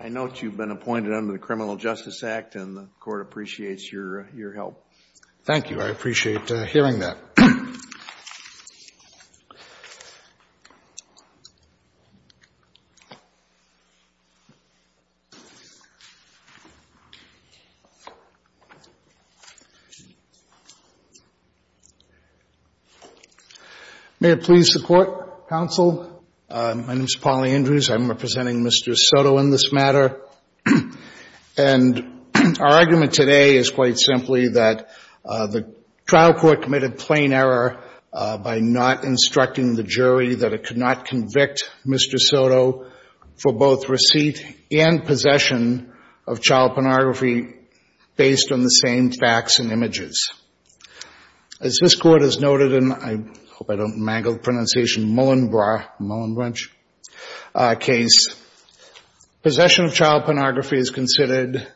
I note you've been appointed under the Criminal Justice Act, and the Court appreciates your help. Thank you. I appreciate hearing that. May it please the Court, Counsel. My name is Pauli Andrews. I'm representing Mr. Soto in this matter. And our argument today is quite simply that the trial court committed plain error by not instructing the jury that it could not convict Mr. Soto for both receipt and possession of child pornography based on the same facts and images. As this Court has noted in, I hope I don't mangle the pronunciation, Mullenbruch case, possession of child pornography is considered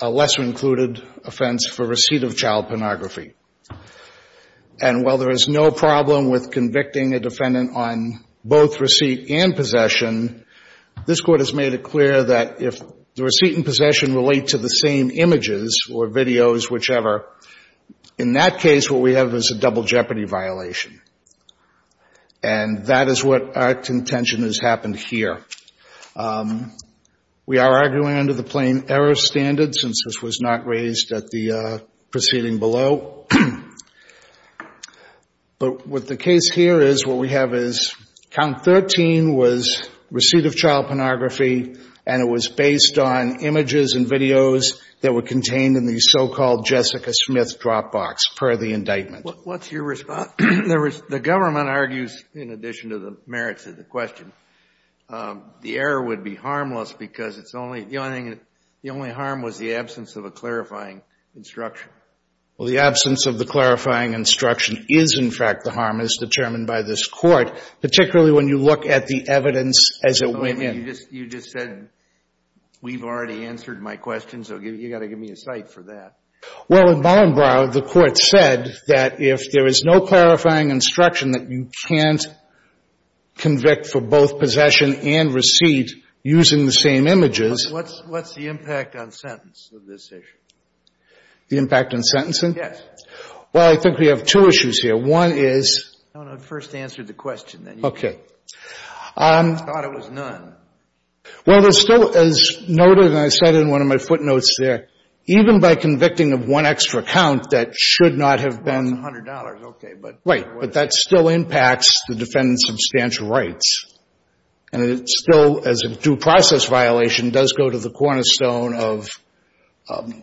a lesser-included offense for receipt of child pornography. And while there is no problem with convicting a defendant on both receipt and possession, this Court has made it clear that if the receipt and possession relate to the same images or videos, whichever, in that case what we have is a double jeopardy violation. And that is what our contention has happened here. We are arguing under the plain error standard, since this was not raised at the proceeding below. But what the case here is, what we have is count 13 was receipt of child pornography, and it was based on images and videos that were contained in the so-called Jessica Smith drop box, per the indictment. What's your response? The government argues, in addition to the merits of the question, the error would be harmless because it's only, the only harm was the absence of a clarifying instruction. Well, the absence of the clarifying instruction is, in fact, the harm as determined by this Court, particularly when you look at the evidence as it went in. You just said we've already answered my question, so you've got to give me a cite for that. Well, in Ballenbrau, the Court said that if there is no clarifying instruction that you can't convict for both possession and receipt using the same images. What's the impact on sentence of this issue? The impact on sentencing? Yes. Well, I think we have two issues here. One is — No, no. First answer the question, then. Okay. I thought it was none. Well, there's still, as noted, and I said in one of my footnotes there, even by convicting of one extra count, that should not have been — $100, okay, but — Right. But that still impacts the defendant's substantial rights. And it still, as a due process violation, does go to the cornerstone of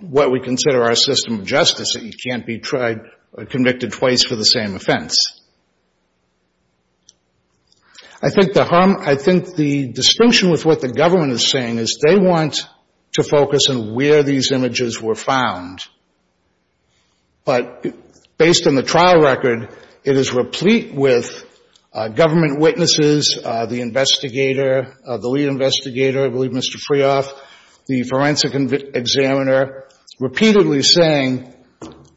what we consider our system of justice, that you can't be tried or convicted twice for the same offense. I think the harm — I think the distinction with what the government is saying is they want to focus on where these images were found. But based on the trial record, it is replete with government witnesses, the investigator, the lead investigator, I believe Mr. Freoff, the forensic examiner, repeatedly saying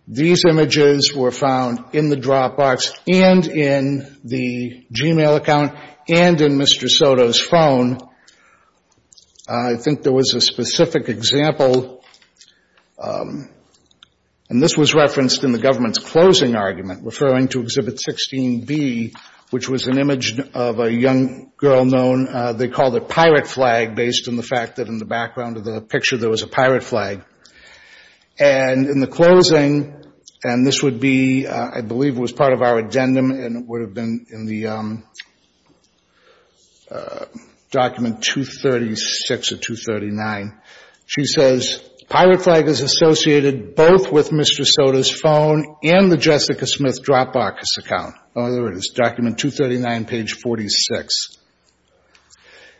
these images were found in the Dropbox and in the Gmail account and in Mr. Soto's phone. I think there was a specific example, and this was referenced in the government's closing argument, referring to Exhibit 16B, which was an image of a young girl known — they called it a pirate flag based on the fact that in the background of the picture there was a pirate flag. And in the closing, and this would be — I believe it was part of our addendum, and it would have been in the Document 236 or 239, she says,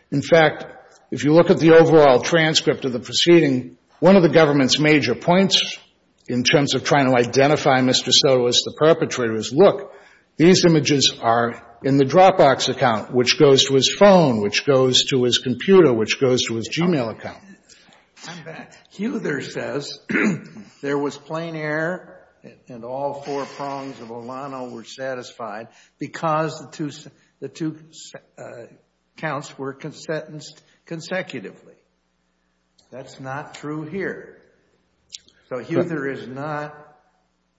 In fact, if you look at the overall transcript of the proceeding, one of the government's major points in terms of trying to identify Mr. Soto as the perpetrator is, look, these images are in the Dropbox account, which goes to his phone, which goes to his computer, which goes to his Gmail account. I'm back. Huther says there was plain error and all four prongs of Olano were satisfied because the two counts were sentenced consecutively. That's not true here. So Huther is not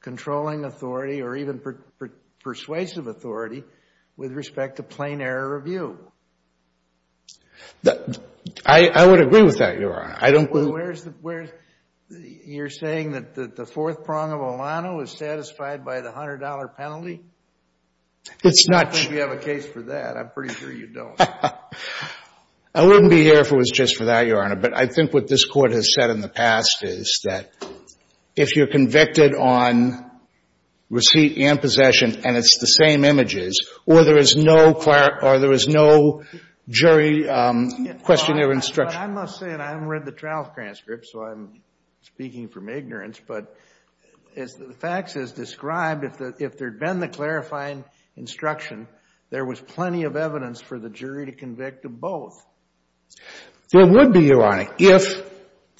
controlling authority or even persuasive authority with respect to plain error review. I would agree with that, Your Honor. You're saying that the fourth prong of Olano is satisfied by the $100 penalty? It's not true. I don't think you have a case for that. I'm pretty sure you don't. I wouldn't be here if it was just for that, Your Honor. But I think what this Court has said in the past is that if you're convicted on receipt and possession and it's the same images or there is no jury questionnaire instruction. I must say, and I haven't read the trial transcript, so I'm speaking from ignorance, but as the facts has described, if there had been the clarifying instruction, there was plenty of evidence for the jury to convict of both. It would be, Your Honor, if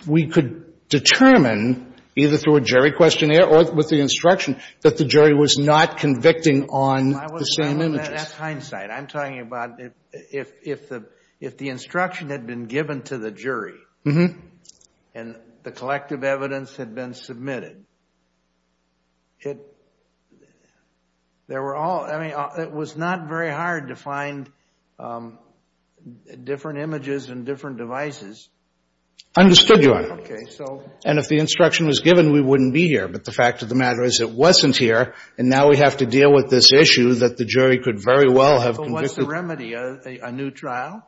we could determine either through a jury questionnaire or with the instruction that the jury was not convicting on the same images. That's hindsight. I'm talking about if the instruction had been given to the jury and the collective evidence had been submitted, it was not very hard to find different images and different devices. Understood, Your Honor. Okay. And if the instruction was given, we wouldn't be here. But the fact of the matter is it wasn't here, and now we have to deal with this issue that the jury could very well have convicted. So what's the remedy? A new trial?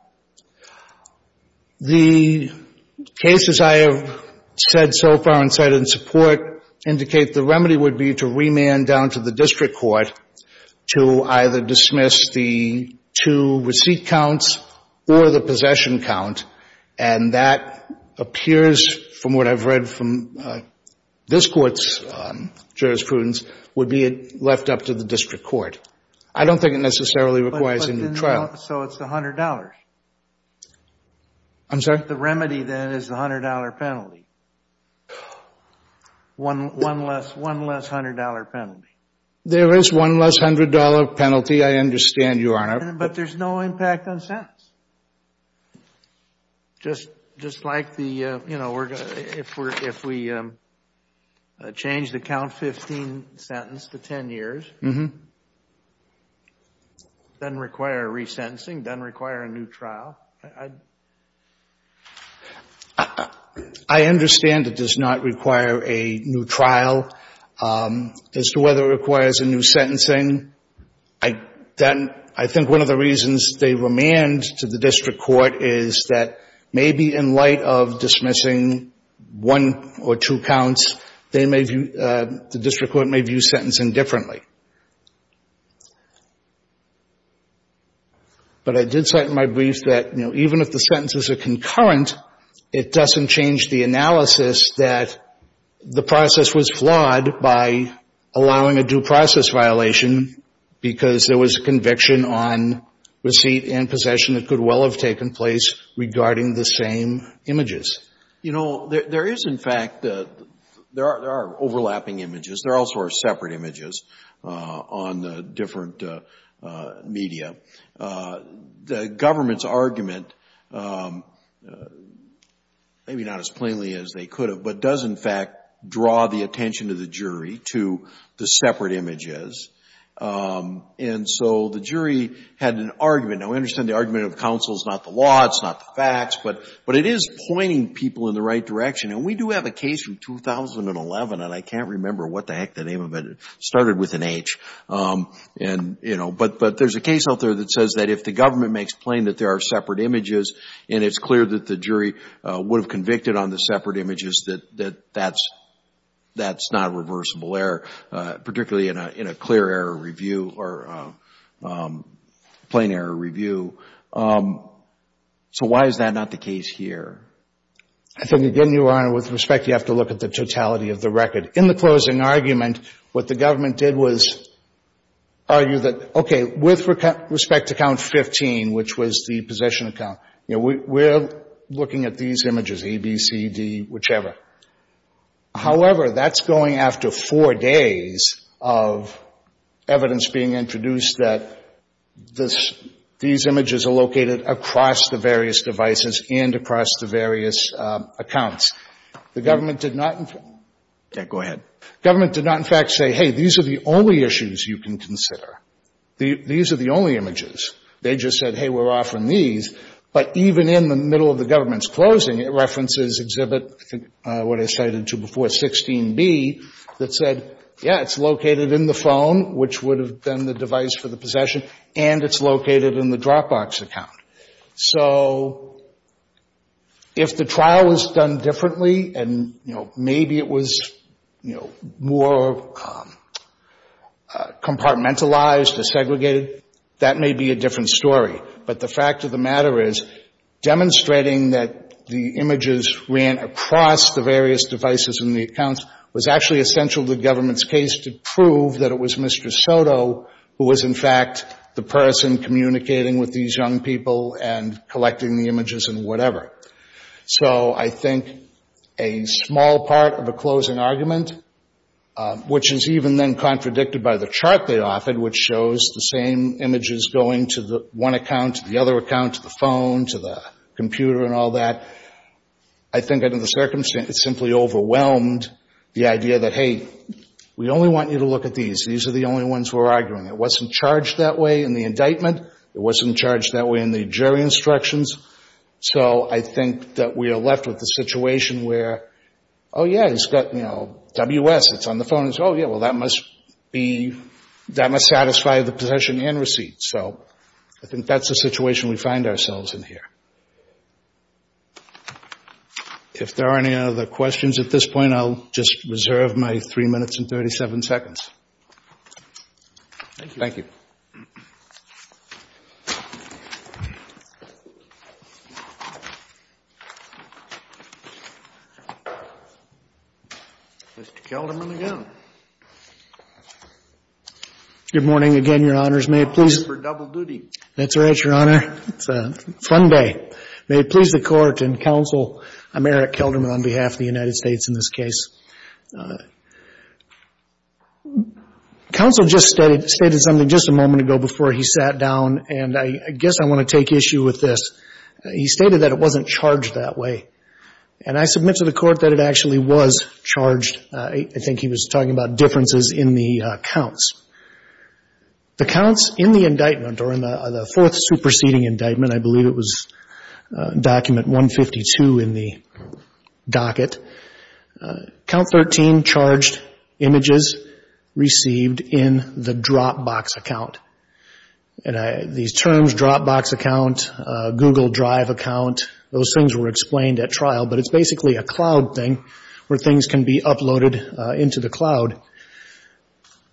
The cases I have said so far and said in support indicate the remedy would be to remand down to the district court to either dismiss the two receipt counts or the possession count. And that appears, from what I've read from this Court's jurisprudence, would be left up to the district court. I don't think it necessarily requires a new trial. So it's $100? I'm sorry? The remedy, then, is the $100 penalty. One less $100 penalty. There is one less $100 penalty, I understand, Your Honor. But there's no impact on sentence. Just like the, you know, if we change the count 15 sentence to 10 years, doesn't require resentencing, doesn't require a new trial. I understand it does not require a new trial. As to whether it requires a new sentencing, I think one of the reasons they remand to the district court is that maybe in light of dismissing one or two counts, the district court may view sentencing differently. But I did cite in my brief that, you know, even if the sentences are concurrent, it doesn't change the analysis that the process was flawed by allowing a due process violation because there was a conviction on receipt and possession that could well have taken place regarding the same images. You know, there is, in fact, there are overlapping images. There also are separate images on the different media. The government's argument, maybe not as plainly as they could have, but does, in fact, draw the attention of the jury to the separate images. And so the jury had an argument. Now, we understand the argument of counsel is not the law. It's not the facts. But it is pointing people in the right direction. And we do have a case from 2011, and I can't remember what the heck the name of it. It started with an H. And, you know, but there's a case out there that says that if the government makes plain that there are separate images and it's clear that the jury would have convicted on the separate images, that that's not a reversible error, particularly in a clear error review or plain error review. So why is that not the case here? I think, again, Your Honor, with respect, you have to look at the totality of the record. In the closing argument, what the government did was argue that, okay, with respect to count 15, which was the possession account, you know, we're looking at these images, A, B, C, D, whichever. However, that's going after four days of evidence being introduced that this, these images are located across the various devices and across the various accounts. The government did not in fact say, hey, these are the only issues you can consider. These are the only images. They just said, hey, we're offering these. But even in the middle of the government's closing, it references Exhibit, I think, what I cited to before, 16B, that said, yeah, it's located in the phone, which would have been the device for the possession, and it's located in the Dropbox account. So if the trial was done differently and, you know, maybe it was, you know, more compartmentalized or segregated, that may be a different story. But the fact of the matter is demonstrating that the images ran across the various devices and the accounts was actually essential to the government's case to prove that it was Mr. Soto who was in fact the person communicating with these young people and collecting the images and whatever. So I think a small part of a closing argument, which is even then contradicted by the chart they offered, which shows the same images going to one account, to the other account, to the phone, to the computer and all that, I think under the circumstance it simply overwhelmed the idea that, hey, we only want you to look at these. These are the only ones we're arguing. It wasn't charged that way in the indictment. It wasn't charged that way in the jury instructions. So I think that we are left with the situation where, oh, yeah, it's got, you know, WS. It's on the phone. It's, oh, yeah, well, that must satisfy the possession and receipt. So I think that's the situation we find ourselves in here. If there are any other questions at this point, I'll just reserve my 3 minutes and 37 seconds. Thank you. Thank you. Mr. Kelderman again. Good morning again, Your Honors. May it please? Double duty. That's right, Your Honor. It's a fun day. May it please the Court and Counsel, I'm Eric Kelderman on behalf of the United States in this case. Counsel just stated something just a moment ago before he sat down, and I guess I want to take issue with this. He stated that it wasn't charged that way, and I submit to the Court that it actually was charged. I think he was talking about differences in the counts. The counts in the indictment or in the fourth superseding indictment, I believe it was document 152 in the docket, count 13 charged images received in the Dropbox account. And these terms, Dropbox account, Google Drive account, those things were explained at trial, but it's basically a cloud thing where things can be uploaded into the cloud.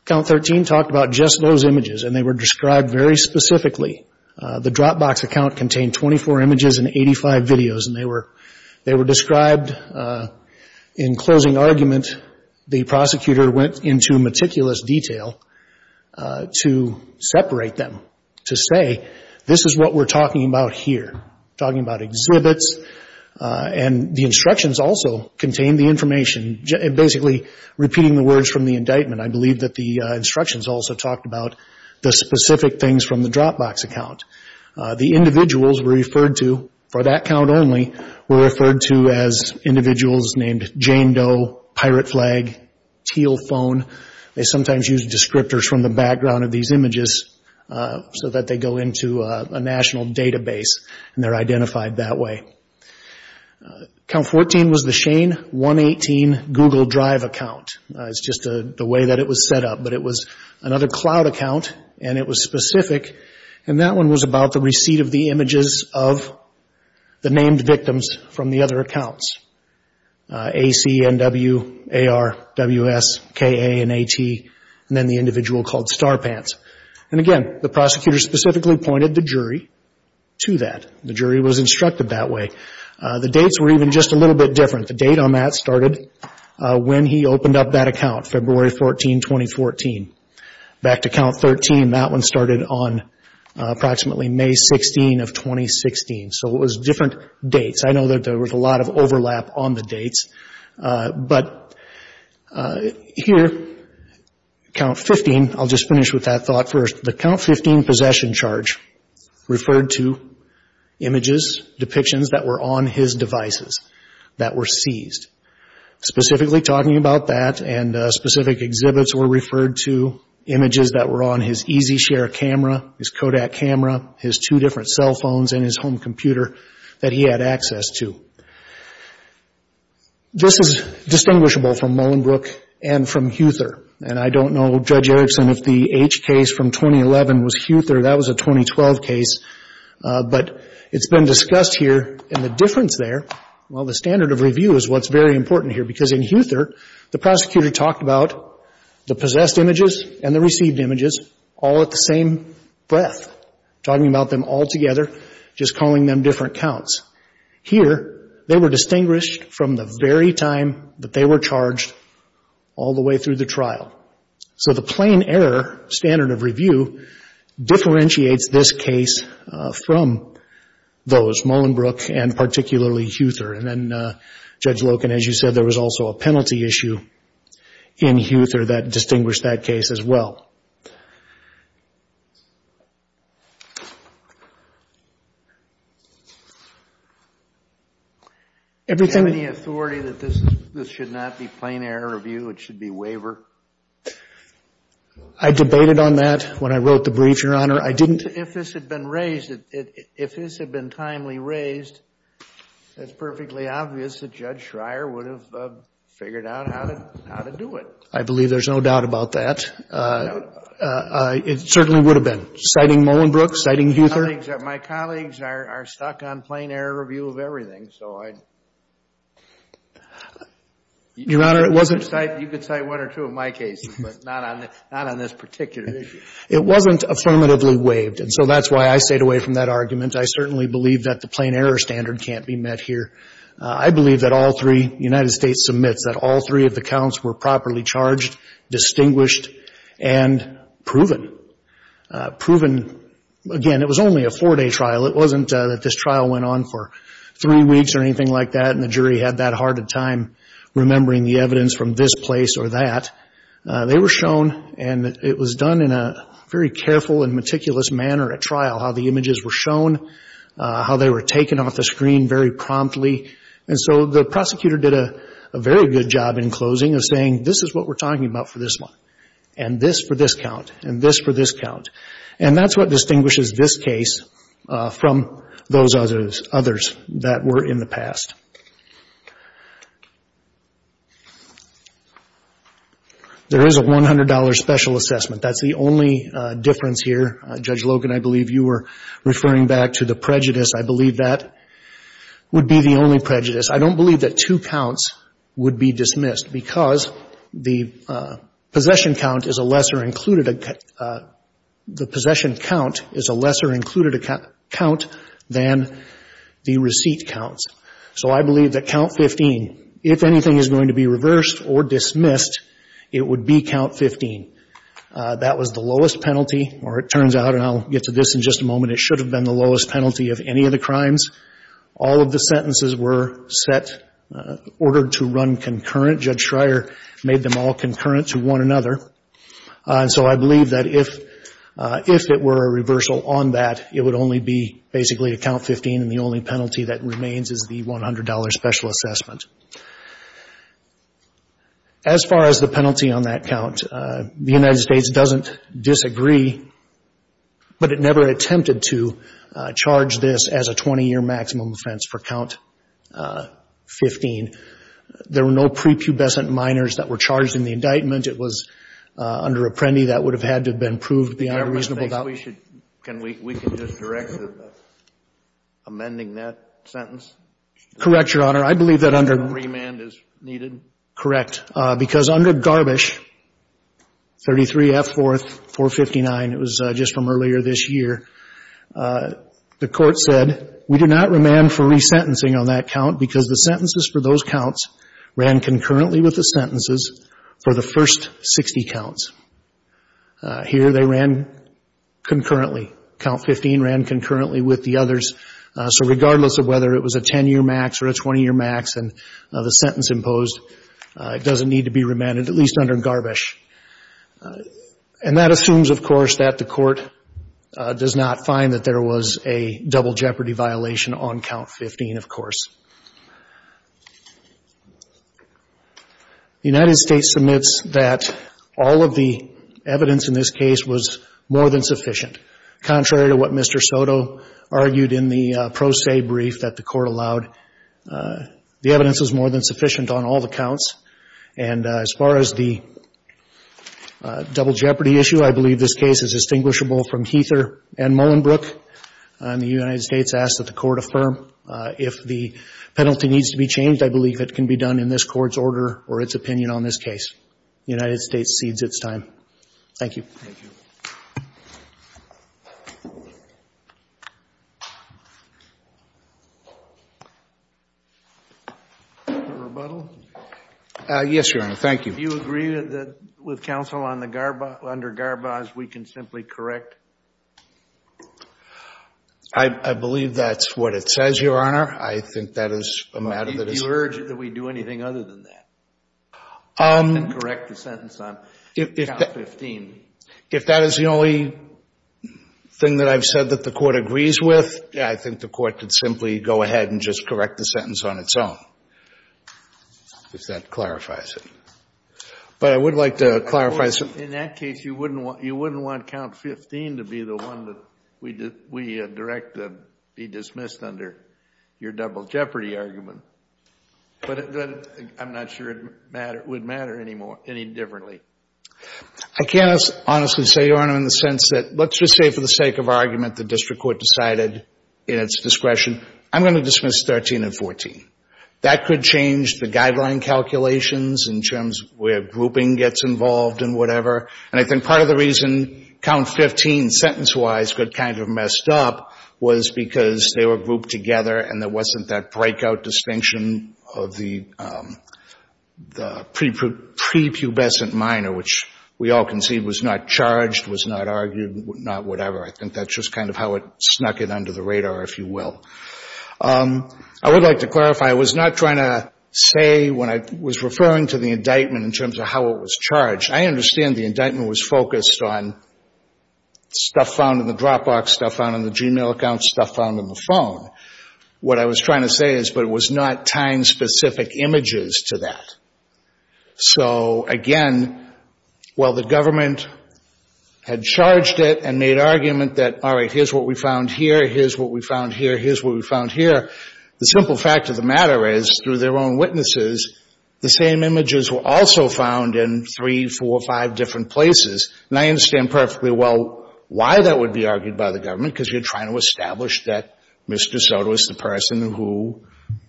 Count 13 talked about just those images, and they were described very specifically. The Dropbox account contained 24 images and 85 videos, and they were described in closing argument. The prosecutor went into meticulous detail to separate them to say, this is what we're talking about here. We're talking about exhibits, and the instructions also contained the information, basically repeating the words from the indictment. I believe that the instructions also talked about the specific things from the Dropbox account. The individuals were referred to for that count only were referred to as individuals named Jane Doe, Pirate Flag, Teal Phone. They sometimes used descriptors from the background of these images so that they go into a national database. And they're identified that way. Count 14 was the Shane 118 Google Drive account. It's just the way that it was set up. But it was another cloud account, and it was specific. And that one was about the receipt of the images of the named victims from the other accounts, AC, NW, AR, WS, KA, and AT, and then the individual called Star Pants. And again, the prosecutor specifically pointed the jury to that. The jury was instructed that way. The dates were even just a little bit different. The date on that started when he opened up that account, February 14, 2014. Back to count 13, that one started on approximately May 16 of 2016. So it was different dates. I know that there was a lot of overlap on the dates. But here, count 15, I'll just finish with that thought first. The count 15 possession charge referred to images, depictions that were on his devices that were seized. Specifically talking about that and specific exhibits were referred to, images that were on his EasyShare camera, his Kodak camera, his two different cell phones, and his home computer that he had access to. This is distinguishable from Mullenbrook and from Huether. And I don't know, Judge Erickson, if the H case from 2011 was Huether. That was a 2012 case. But it's been discussed here, and the difference there, well, the standard of review is what's very important here. Because in Huether, the prosecutor talked about the possessed images and the received images all at the same breath, talking about them all together, just calling them different counts. Here, they were distinguished from the very time that they were charged all the way through the trial. So the plain error standard of review differentiates this case from those, Mullenbrook and particularly Huether. And then, Judge Loken, as you said, there was also a penalty issue in Huether that distinguished that case as well. Do you have any authority that this should not be plain error review, it should be waiver? I debated on that when I wrote the brief, Your Honor. If this had been raised, if this had been timely raised, it's perfectly obvious that Judge Schreier would have figured out how to do it. I believe there's no doubt about that. No doubt. It certainly would have been. Citing Mullenbrook, citing Huether. My colleagues are stuck on plain error review of everything, so I'd... Your Honor, it wasn't... You could cite one or two of my cases, but not on this particular issue. It wasn't affirmatively waived. And so that's why I stayed away from that argument. I certainly believe that the plain error standard can't be met here. I believe that all three United States submits, that all three of the counts were properly charged, distinguished, and proven. Proven, again, it was only a four-day trial. It wasn't that this trial went on for three weeks or anything like that and the jury had that hard a time remembering the evidence from this place or that. They were shown, and it was done in a very careful and meticulous manner at trial, how the images were shown, how they were taken off the screen very promptly. And so the prosecutor did a very good job in closing of saying, this is what we're talking about for this one, and this for this count, and this for this count. And that's what distinguishes this case from those others that were in the past. There is a $100 special assessment. That's the only difference here. Judge Logan, I believe you were referring back to the prejudice. I believe that would be the only prejudice. I don't believe that two counts would be dismissed because the possession count is a lesser included account. The possession count is a lesser included account than the receipt counts. So I believe that count 15, if anything is going to be reversed or dismissed, it would be count 15. That was the lowest penalty, or it turns out, and I'll get to this in just a moment, it should have been the lowest penalty of any of the crimes. All of the sentences were set, ordered to run concurrent. Judge Schreier made them all concurrent to one another. And so I believe that if it were a reversal on that, it would only be basically a count 15, and the only penalty that remains is the $100 special assessment. As far as the penalty on that count, the United States doesn't disagree, but it never attempted to charge this as a 20-year maximum offense for count 15. There were no prepubescent minors that were charged in the indictment. It was under Apprendi. That would have had to have been proved beyond a reasonable doubt. The government thinks we should, can we, we can just direct to amending that sentence? Correct, Your Honor. Your Honor, I believe that under Remand is needed. Correct. Because under Garbisch, 33 F. 4th, 459, it was just from earlier this year, the court said, we do not remand for resentencing on that count because the sentences for those counts ran concurrently with the sentences for the first 60 counts. Here they ran concurrently. Count 15 ran concurrently with the others. So regardless of whether it was a 10-year max or a 20-year max and the sentence imposed, it doesn't need to be remanded, at least under Garbisch. And that assumes, of course, that the court does not find that there was a double jeopardy violation on count 15, of course. The United States submits that all of the evidence in this case was more than the pro se brief that the court allowed. The evidence was more than sufficient on all the counts. And as far as the double jeopardy issue, I believe this case is distinguishable from Heather and Mullenbrook. The United States asks that the court affirm. If the penalty needs to be changed, I believe it can be done in this Court's order or its opinion on this case. The United States cedes its time. Thank you. Thank you. A rebuttal? Yes, Your Honor. Thank you. Do you agree that with counsel under Garbas, we can simply correct? I believe that's what it says, Your Honor. I think that is a matter that is. Do you urge that we do anything other than that? Correct the sentence on count 15. If that is the only thing that I've said that the court agrees with, I think the court could simply go ahead and just correct the sentence on its own, if that clarifies it. But I would like to clarify. In that case, you wouldn't want count 15 to be the one that we direct to be dismissed under your double jeopardy argument. But I'm not sure it would matter any differently. I can't honestly say, Your Honor, in the sense that let's just say for the sake of argument the district court decided in its discretion, I'm going to dismiss 13 and 14. That could change the guideline calculations in terms of where grouping gets involved and whatever. And I think part of the reason count 15 sentence-wise got kind of messed up was because they were grouped together and there wasn't that breakout distinction of the prepubescent minor, which we all can see was not charged, was not argued, not whatever. I think that's just kind of how it snuck it under the radar, if you will. I would like to clarify. I was not trying to say when I was referring to the indictment in terms of how it was charged. I understand the indictment was focused on stuff found in the Dropbox, stuff found in the Gmail account, stuff found on the phone. What I was trying to say is, but it was not tying specific images to that. So, again, while the government had charged it and made argument that, all right, here's what we found here, here's what we found here, here's what we found here, the simple fact of the matter is, through their own witnesses, the same images were also found in three, four, five different places. And I understand perfectly well why that would be argued by the government, because you're trying to establish that Mr. Soto is the person who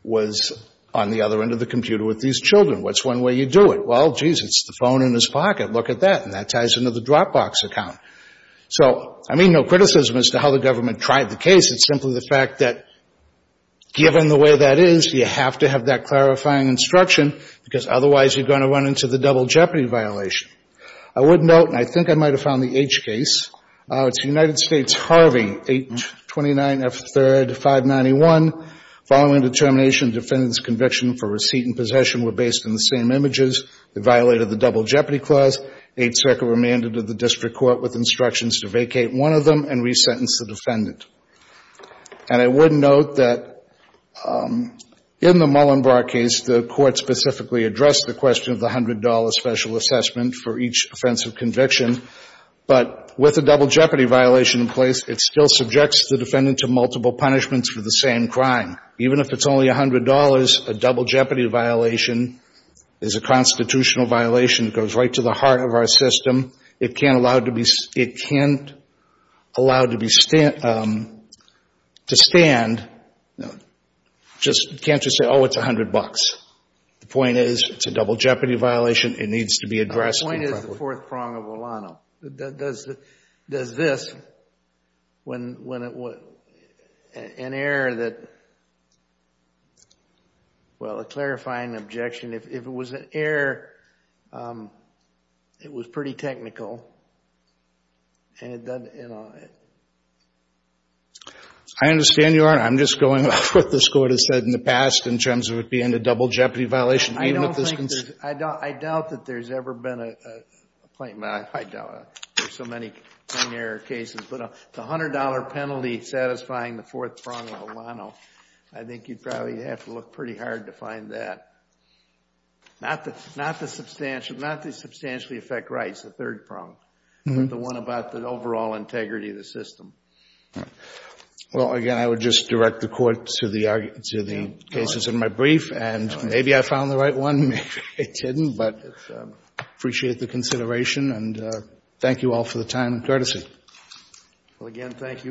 was on the other end of the computer with these children. What's one way you do it? Well, geez, it's the phone in his pocket. Look at that. And that ties into the Dropbox account. So I mean no criticism as to how the government tried the case. It's simply the fact that, given the way that is, you have to have that clarifying instruction, because otherwise you're going to run into the double jeopardy violation. I would note, and I think I might have found the H case, it's United States Harvey, 829F3-591. Following determination, defendant's conviction for receipt and possession were based on the same images. They violated the double jeopardy clause. Eighth Circuit remanded to the district court with instructions to vacate one of them and resentence the defendant. And I would note that in the Mullenbar case, the Court specifically addressed the question of the $100 special assessment for each offensive conviction. But with a double jeopardy violation in place, it still subjects the defendant to multiple punishments for the same crime. Even if it's only $100, a double jeopardy violation is a constitutional violation. It goes right to the heart of our system. It can't allow it to stand. Just can't just say, oh, it's $100. The point is, it's a double jeopardy violation. It needs to be addressed. The point is the fourth prong of Olano. Does this, when an error that, well, a clarifying objection. If it was an error, it was pretty technical. And it doesn't, you know. I understand, Your Honor. I'm just going off what this Court has said in the past in terms of it being a double jeopardy violation. I don't think there's. I doubt that there's ever been a. I doubt it. There's so many error cases. But the $100 penalty satisfying the fourth prong of Olano, I think you'd probably have to look pretty hard to find that. Not the substantially affect rights, the third prong. The one about the overall integrity of the system. Well, again, I would just direct the Court to the cases in my brief. And maybe I found the right one. Maybe I didn't. But I appreciate the consideration. And thank you all for the time and courtesy. Well, again, thank you.